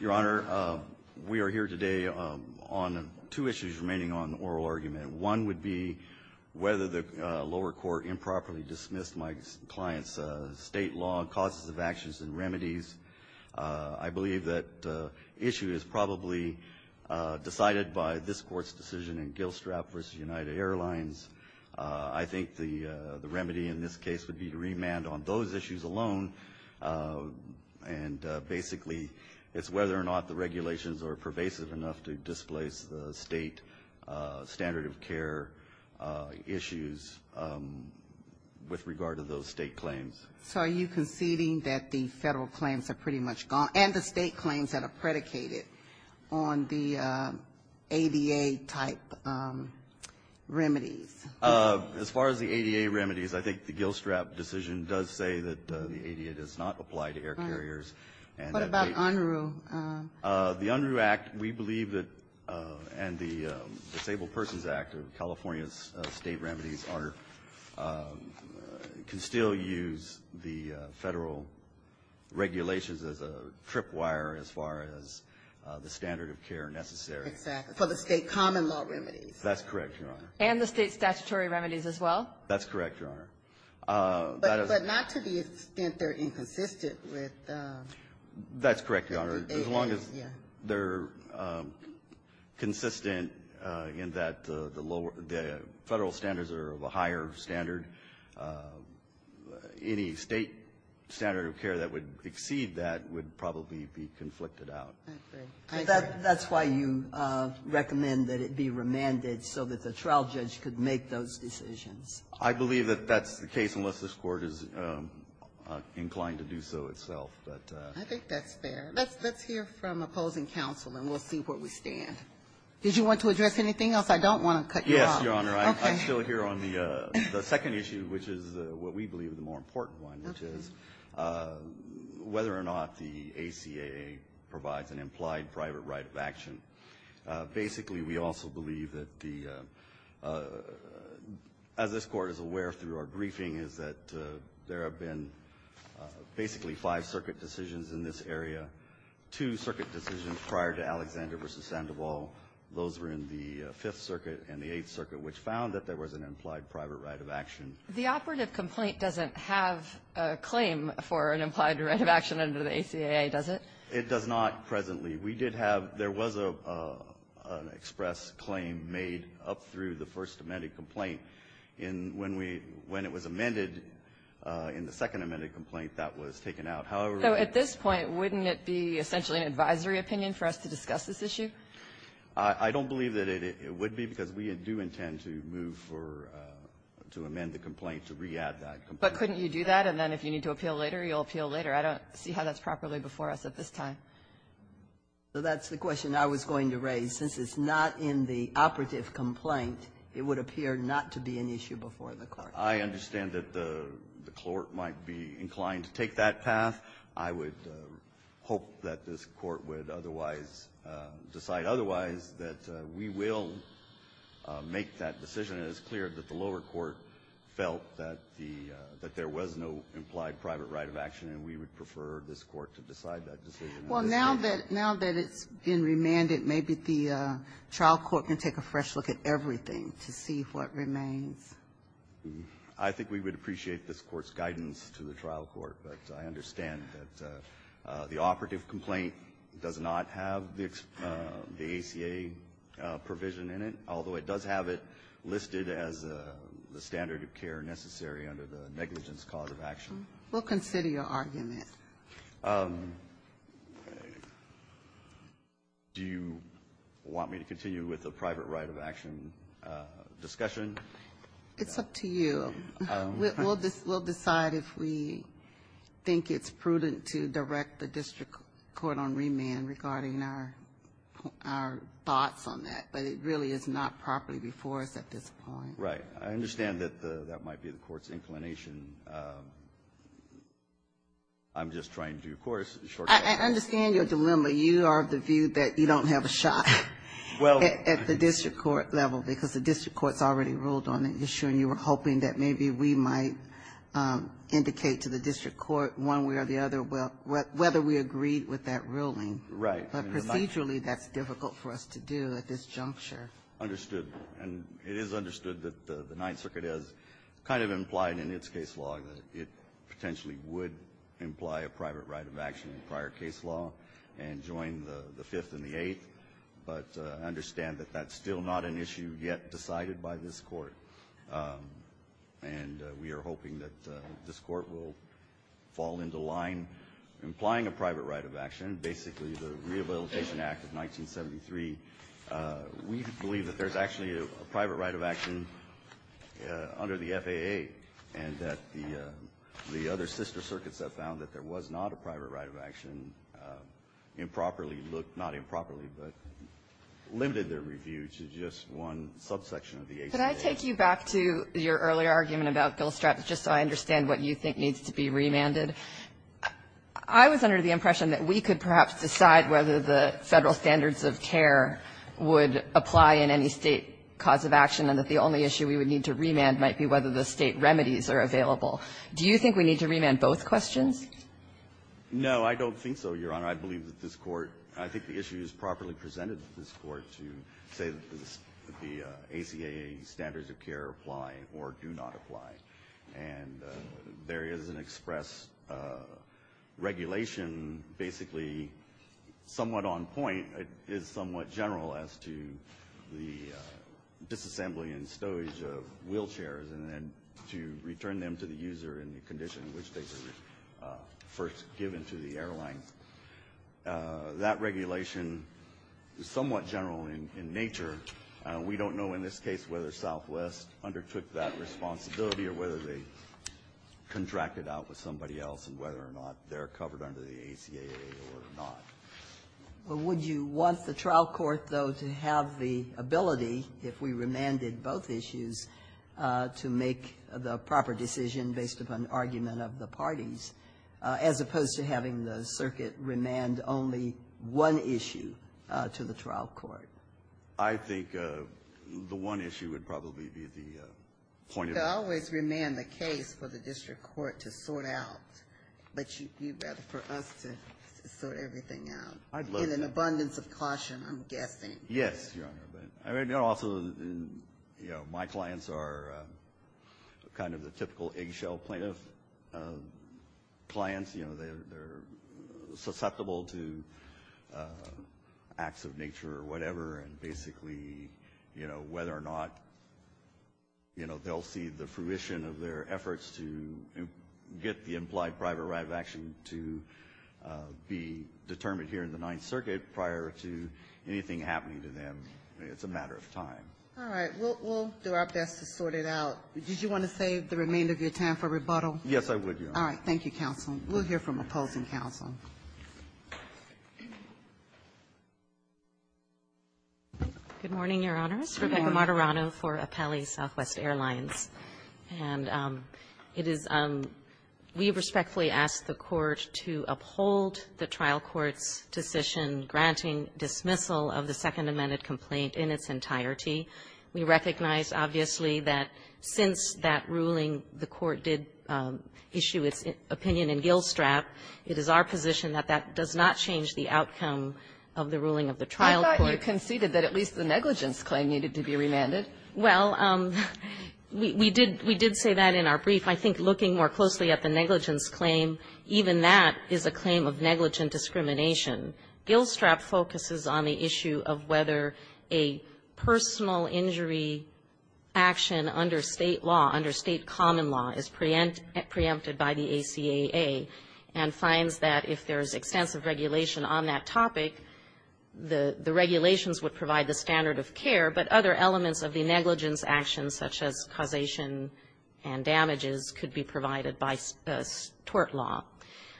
Your Honor, we are here today on two issues remaining on oral argument. One would be whether the lower court improperly dismissed my client's state law, causes of actions, and remedies. I believe that issue is probably decided by this Court's decision in Gilstrap v. United Airlines. I think the remedy in this case would be to remand on those issues alone, and basically it's whether or not the regulations are pervasive enough to displace the state standard of care issues with regard to those state claims. So are you conceding that the Federal claims are pretty much gone, and the state claims that are predicated on the ADA-type remedies? As far as the ADA remedies, I think the Gilstrap decision does say that the ADA does not apply to air carriers. What about UNRU? The UNRU Act, we believe that, and the Disabled Persons Act of California's state remedies, Your Honor, can still use the Federal regulations as a tripwire as far as the standard of care necessary. Exactly. For the state common law remedies. That's correct, Your Honor. And the state statutory remedies as well? That's correct, Your Honor. But not to the extent they're inconsistent with the ADA. That's correct, Your Honor. As long as they're consistent in that the Federal standards are of a higher standard, any state standard of care that would exceed that would probably be conflicted out. I agree. I agree. That's why you recommend that it be remanded so that the trial judge could make those decisions. I believe that that's the case, unless this Court is inclined to do so itself. I think that's fair. Let's hear from opposing counsel, and we'll see where we stand. Did you want to address anything else? I don't want to cut you off. Yes, Your Honor. Okay. I'm still here on the second issue, which is what we believe is the more important one, which is whether or not the ACAA provides an implied private right of action. Basically, we also believe that the as this Court is aware through our briefing is that there have been basically five circuit decisions in this area, two circuit decisions prior to Alexander v. Sandoval. Those were in the Fifth Circuit and the Eighth Circuit, which found that there was an implied private right of action. The operative complaint doesn't have a claim for an implied right of action under the ACAA, does it? It does not presently. We did have an express claim made up through the first amended complaint. When it was amended in the second amended complaint, that was taken out. So at this point, wouldn't it be essentially an advisory opinion for us to discuss this issue? I don't believe that it would be, because we do intend to move for to amend the complaint to re-add that complaint. But couldn't you do that, and then if you need to appeal later, you'll appeal later. I don't see how that's properly before us at this time. So that's the question I was going to raise. Since it's not in the operative complaint, it would appear not to be an issue before the Court. I understand that the Court might be inclined to take that path. I would hope that this Court would otherwise decide otherwise, that we will make that decision. And it's clear that the lower court felt that the — that there was no implied private right of action, and we would prefer this Court to decide that decision. Well, now that it's been remanded, maybe the trial court can take a fresh look at everything to see what remains. I think we would appreciate this Court's guidance to the trial court, but I understand that the operative complaint does not have the ACA provision in it, although it does have it listed as the standard of care necessary under the negligence cause of action. We'll consider your argument. Do you want me to continue with the private right of action discussion? It's up to you. We'll decide if we think it's prudent to direct the district court on remand regarding our thoughts on that, but it really is not properly before us at this point. Right. I understand that that might be the Court's inclination. I'm just trying to, of course, shortcut. I understand your dilemma. You are of the view that you don't have a shot at the district court level because the district court's already ruled on the issue, and you were hoping that maybe we might indicate to the district court one way or the other whether we agreed with that ruling. Right. But procedurally, that's difficult for us to do at this juncture. Understood. And it is understood that the Ninth Circuit has kind of implied in its case law that it potentially would imply a private right of action in prior case law and join the decision that was decided by this Court, and we are hoping that this Court will fall into line implying a private right of action. Basically, the Rehabilitation Act of 1973, we believe that there's actually a private right of action under the FAA and that the other sister circuits that found that there was not a private right of action improperly looked, not improperly, but limited their own subsection of the ACA. Could I take you back to your earlier argument about Bill Straps, just so I understand what you think needs to be remanded? I was under the impression that we could perhaps decide whether the Federal standards of care would apply in any State cause of action, and that the only issue we would need to remand might be whether the State remedies are available. Do you think we need to remand both questions? No, I don't think so, Your Honor. I believe that this Court, I think the issue is properly presented to this Court to say that the ACA standards of care apply or do not apply, and there is an express regulation basically somewhat on point, it is somewhat general as to the disassembly and stowage of wheelchairs and then to return them to the user in the condition in which they were first given to the airline. That regulation is somewhat general in nature. We don't know in this case whether Southwest undertook that responsibility or whether they contracted out with somebody else and whether or not they are covered under the ACA or not. Well, would you want the trial court, though, to have the ability, if we remanded both issues, to make the proper decision based upon argument of the parties? As opposed to having the circuit remand only one issue to the trial court? I think the one issue would probably be the point of the case. They always remand the case for the district court to sort out, but you'd rather for us to sort everything out. I'd love that. In an abundance of caution, I'm guessing. Yes, Your Honor. Also, my clients are kind of the typical eggshell plaintiff clients. They're susceptible to acts of nature or whatever, and basically whether or not they'll see the fruition of their efforts to get the implied private right of action to be determined here in the Ninth Circuit prior to anything happening to them, it's a matter of time. All right. We'll do our best to sort it out. Did you want to save the remainder of your time for rebuttal? Yes, I would, Your Honor. All right. Thank you, counsel. We'll hear from opposing counsel. Good morning, Your Honors. Rebecca Martorano for Apelli Southwest Airlines. And it is we respectfully ask the Court to uphold the trial court's decision granting dismissal of the Second Amendment complaint in its entirety. We recognize, obviously, that since that ruling, the Court did issue its opinion in Gillstrap. It is our position that that does not change the outcome of the ruling of the trial court. I thought you conceded that at least the negligence claim needed to be remanded. Well, we did say that in our brief. I think looking more closely at the negligence claim, even that is a claim of negligent discrimination. Gillstrap focuses on the issue of whether a personal injury action under state law, under state common law, is preempted by the ACAA and finds that if there's extensive regulation on that topic, the regulations would provide the standard of care. But other elements of the negligence action, such as causation and damages, could be provided by tort law.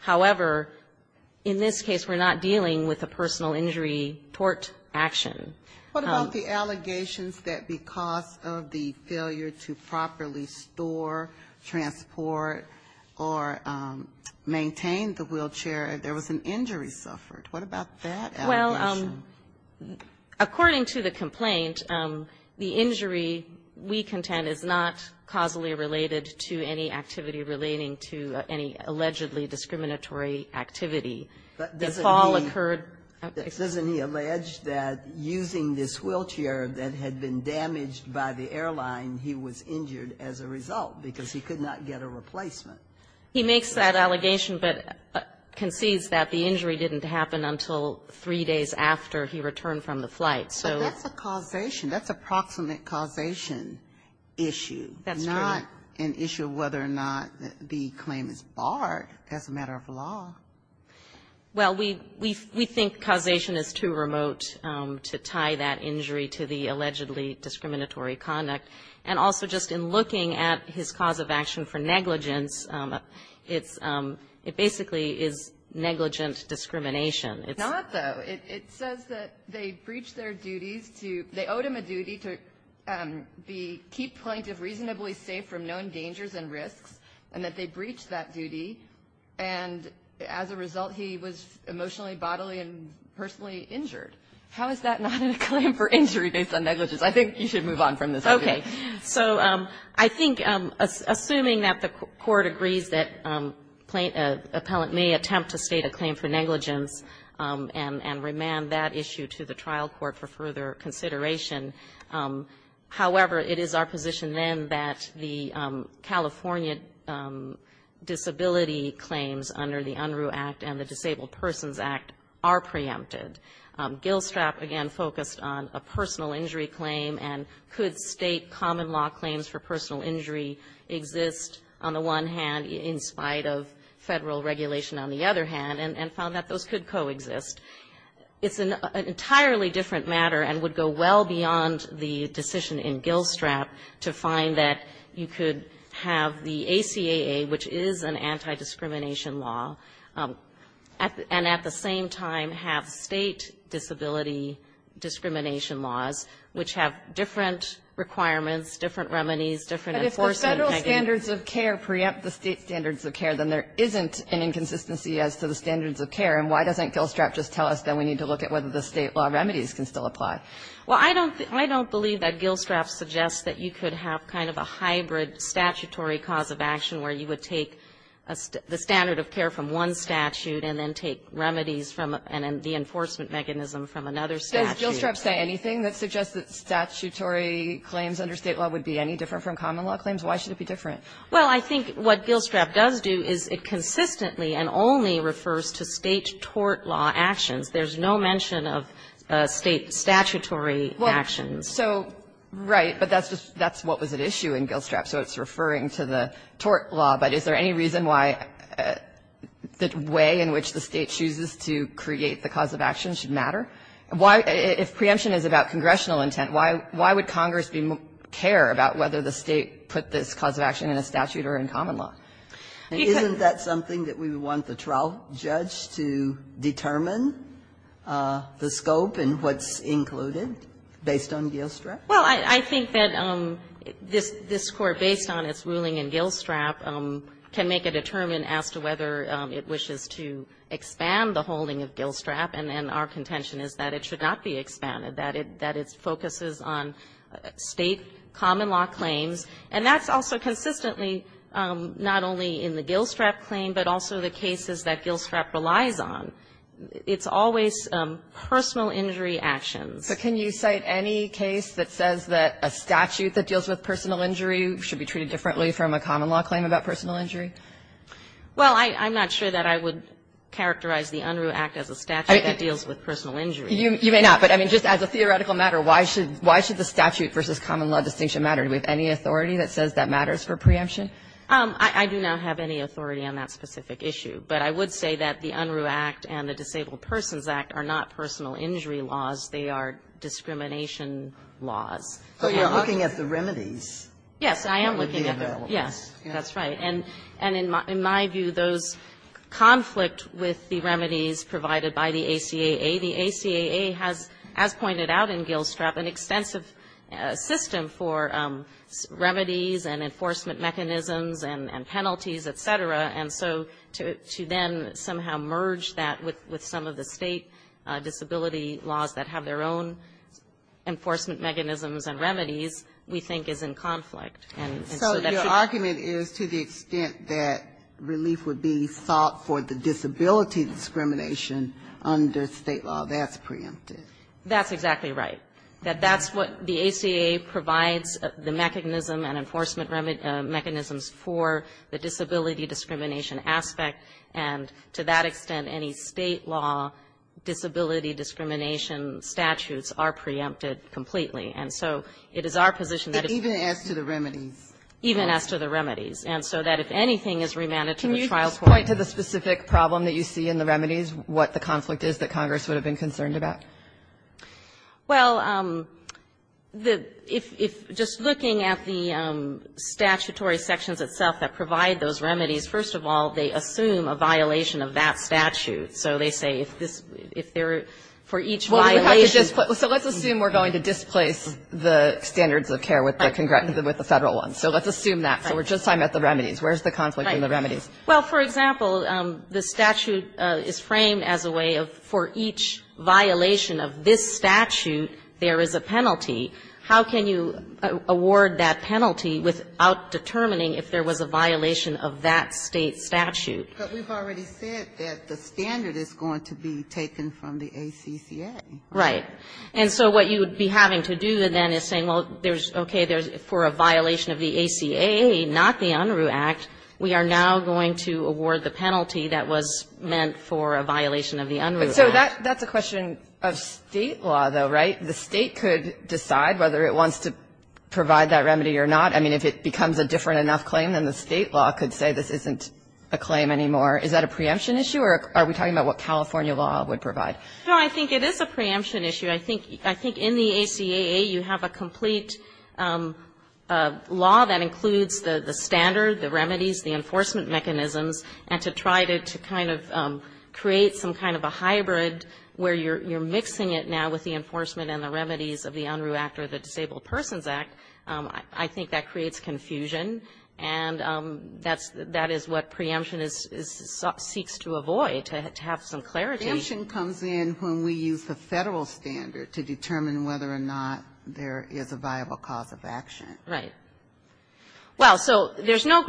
However, in this case, we're not dealing with a personal injury tort action. What about the allegations that because of the failure to properly store, transport, or maintain the wheelchair, there was an injury suffered? What about that allegation? According to the complaint, the injury we contend is not causally related to any activity relating to any allegedly discriminatory activity. The fall occurred at the site. But doesn't he allege that using this wheelchair that had been damaged by the airline, he was injured as a result because he could not get a replacement? He makes that allegation, but concedes that the injury didn't happen until three days after he returned from the flight. So that's a causation. That's a proximate causation issue, not an issue of whether or not the claim is barred as a matter of law. Well, we think causation is too remote to tie that injury to the allegedly discriminatory conduct. And also, just in looking at his cause of action for negligence, it basically is negligent discrimination. It's not, though. It says that they breached their duties to – they owed him a duty to keep plaintiff reasonably safe from known dangers and risks, and that they breached that duty. And as a result, he was emotionally, bodily, and personally injured. How is that not a claim for injury based on negligence? I think you should move on from this. Okay. So I think, assuming that the court agrees that a plaintiff – an appellant may attempt to state a claim for negligence and remand that issue to the trial court for further consideration, however, it is our position then that the California Disability Claims under the UNRU Act and the Disabled Persons Act are preempted. Gillstrap, again, focused on a personal injury claim, and could state common law claims for personal injury exist on the one hand in spite of federal regulation on the other hand, and found that those could coexist. It's an entirely different matter and would go well beyond the decision in Gillstrap to find that you could have the ACAA, which is an anti-discrimination law, and at the same time have state disability discrimination laws, which have different requirements, different remedies, different enforcement – But if the federal standards of care preempt the state standards of care, then there isn't an inconsistency as to the standards of care, and why doesn't Gillstrap just tell us that we need to look at whether the state law remedies can still apply? Well, I don't believe that Gillstrap suggests that you could have kind of a hybrid statutory cause of action where you would take the standard of care from one statute and then take remedies from the enforcement mechanism from another statute. Does Gillstrap say anything that suggests that statutory claims under state law would be any different from common law claims? Why should it be different? Well, I think what Gillstrap does do is it consistently and only refers to state tort law actions. There's no mention of state statutory actions. So, right, but that's just – that's what was at issue in Gillstrap, so it's referring to the tort law, but is there any reason why the way in which the State chooses to create the cause of action should matter? Why – if preemption is about congressional intent, why would Congress care about whether the State put this cause of action in a statute or in common law? Isn't that something that we would want the trial judge to determine, the scope and what's included based on Gillstrap? Well, I think that this Court, based on its ruling in Gillstrap, can make a determine as to whether it wishes to expand the holding of Gillstrap, and our contention is that it should not be expanded, that it focuses on State common law claims. And that's also consistently not only in the Gillstrap claim, but also the cases that Gillstrap relies on. It's always personal injury actions. But can you cite any case that says that a statute that deals with personal injury should be treated differently from a common law claim about personal injury? Well, I'm not sure that I would characterize the Unruh Act as a statute that deals with personal injury. You may not, but, I mean, just as a theoretical matter, why should the statute versus common law distinction matter? Do we have any authority that says that matters for preemption? I do not have any authority on that specific issue, but I would say that the Unruh Act and the Disabled Persons Act are not personal injury laws. They are discrimination laws. But you're looking at the remedies. Yes, I am looking at the remedies. Yes, that's right. And in my view, those conflict with the remedies provided by the ACAA. The ACAA has, as pointed out in Gillstrap, an extensive system for remedies and enforcement mechanisms and penalties, et cetera. And so to then somehow merge that with some of the State disability laws that have their own enforcement mechanisms and remedies, we think is in conflict. And so that should be the case. So your argument is to the extent that relief would be sought for the disability discrimination under State law, that's preemptive. That's exactly right. That that's what the ACAA provides, the mechanism and enforcement mechanisms for the disability discrimination aspect. And to that extent, any State law disability discrimination statutes are preempted completely. And so it is our position that it's Even as to the remedies. Even as to the remedies. And so that if anything is remanded to the trial court Can you just point to the specific problem that you see in the remedies, what the conflict is that Congress would have been concerned about? Well, if just looking at the statutory sections itself that provide those remedies, first of all, they assume a violation of that statute. So they say if this, if there are, for each violation So let's assume we're going to displace the standards of care with the federal one. So let's assume that. So we're just talking about the remedies. Where's the conflict in the remedies? Well, for example, the statute is framed as a way of for each violation of this statute there is a penalty. How can you award that penalty without determining if there was a violation of that State statute? But we've already said that the standard is going to be taken from the ACCA. Right. And so what you would be having to do then is say, well, there's, okay, for a violation of the ACA, not the Unruh Act, we are now going to award the penalty that was meant for a violation of the Unruh Act. So that's a question of State law, though, right? The State could decide whether it wants to provide that remedy or not. I mean, if it becomes a different enough claim, then the State law could say this isn't a claim anymore. Is that a preemption issue? Or are we talking about what California law would provide? No, I think it is a preemption issue. I think, I think in the ACAA, you have a complete law that includes the standard, the remedies, the enforcement mechanisms, and to try to kind of create some kind of a hybrid where you're mixing it now with the enforcement and the remedies of the Unruh Act or the Disabled Persons Act, I think that creates confusion. And that's, that is what preemption is, seeks to avoid, to have some clarity. Preemption comes in when we use the Federal standard to determine whether or not there is a viable cause of action. Right. Well, so there's no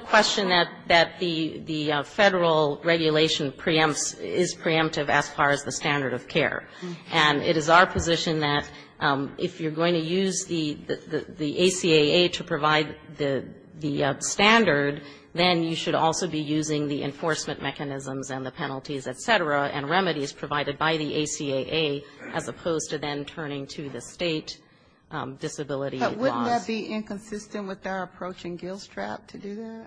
question that the Federal regulation preempts, is preemptive as far as the standard of care. And it is our position that if you're going to use the ACAA to provide the standard, then you should also be using the enforcement mechanisms and the penalties, et cetera, and remedies provided by the ACAA as opposed to then turning to the State disability laws. But wouldn't that be inconsistent with our approach in GILSTRAP to do that?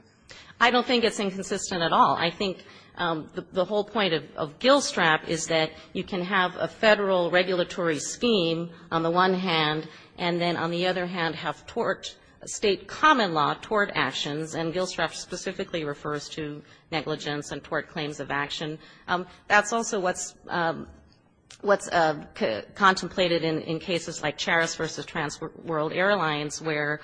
I don't think it's inconsistent at all. I think the whole point of GILSTRAP is that you can have a Federal regulatory scheme on the one hand, and then on the other hand have tort, State common law tort actions, and GILSTRAP specifically refers to negligence and tort claims of action. That's also what's contemplated in cases like Charis v. Trans World Airlines, where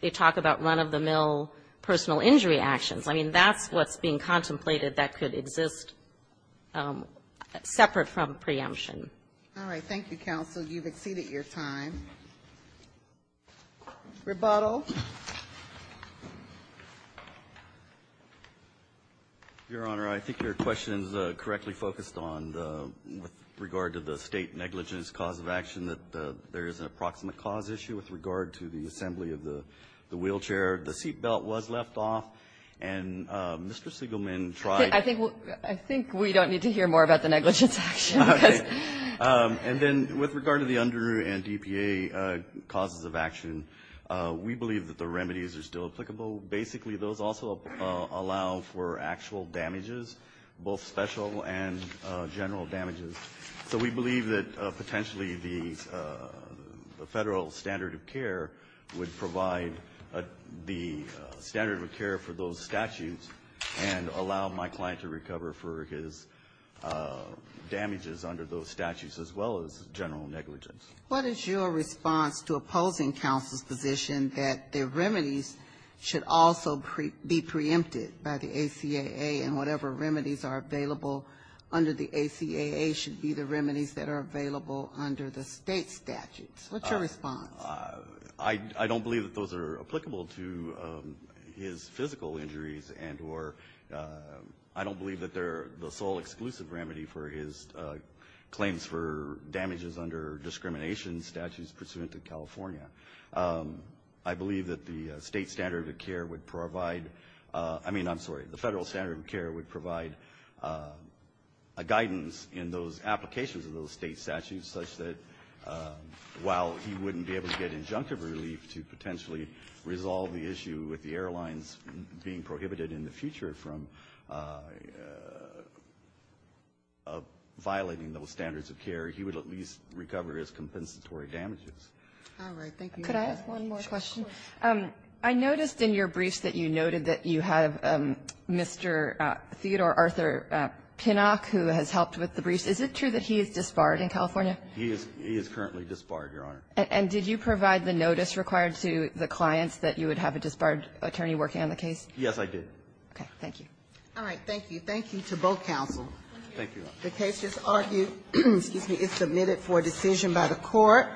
they talk about run-of-the-mill personal injury actions. I mean, that's what's being contemplated that could exist separate from preemption. All right. Thank you, counsel. You've exceeded your time. Rebuttal. Your Honor, I think your question is correctly focused on the, with regard to the State negligence cause of action, that there is an approximate cause issue with regard to the assembly of the wheelchair. The seat belt was left off, and Mr. Siegelman tried to do that. I think we don't need to hear more about the negligence action. And then, with regard to the under and DPA causes of action, we believe that the remedies are still applicable. Basically, those also allow for actual damages, both special and general damages. So we believe that potentially the Federal standard of care would provide the standard of care for those statutes and allow my client to recover for his damages under those statutes, as well as general negligence. What is your response to opposing counsel's position that the remedies should also be preempted by the ACAA and whatever remedies are available under the ACAA should be the remedies that are available under the State statutes? What's your response? I don't believe that those are applicable to his physical injuries and or I don't believe that they're the sole exclusive remedy for his claims for damages under discrimination statutes pursuant to California. I believe that the State standard of care would provide, I mean, I'm sorry, the Federal standard of care would provide a guidance in those applications of those State statutes such that while he wouldn't be able to get injunctive relief to potentially resolve the issue with the airlines being prohibited in the future from violating those standards of care, he would at least recover his compensatory damages. All right. Thank you. Could I ask one more question? Of course. I noticed in your briefs that you noted that you have Mr. Theodore Arthur Pinnock who has helped with the briefs. Is it true that he is disbarred in California? He is currently disbarred, Your Honor. And did you provide the notice required to the clients that you would have a disbarred attorney working on the case? Yes, I did. Okay. Thank you. All right. Thank you. Thank you to both counsel. Thank you. The case is argued, excuse me, is submitted for decision by the Court. Thank you, Your Honor.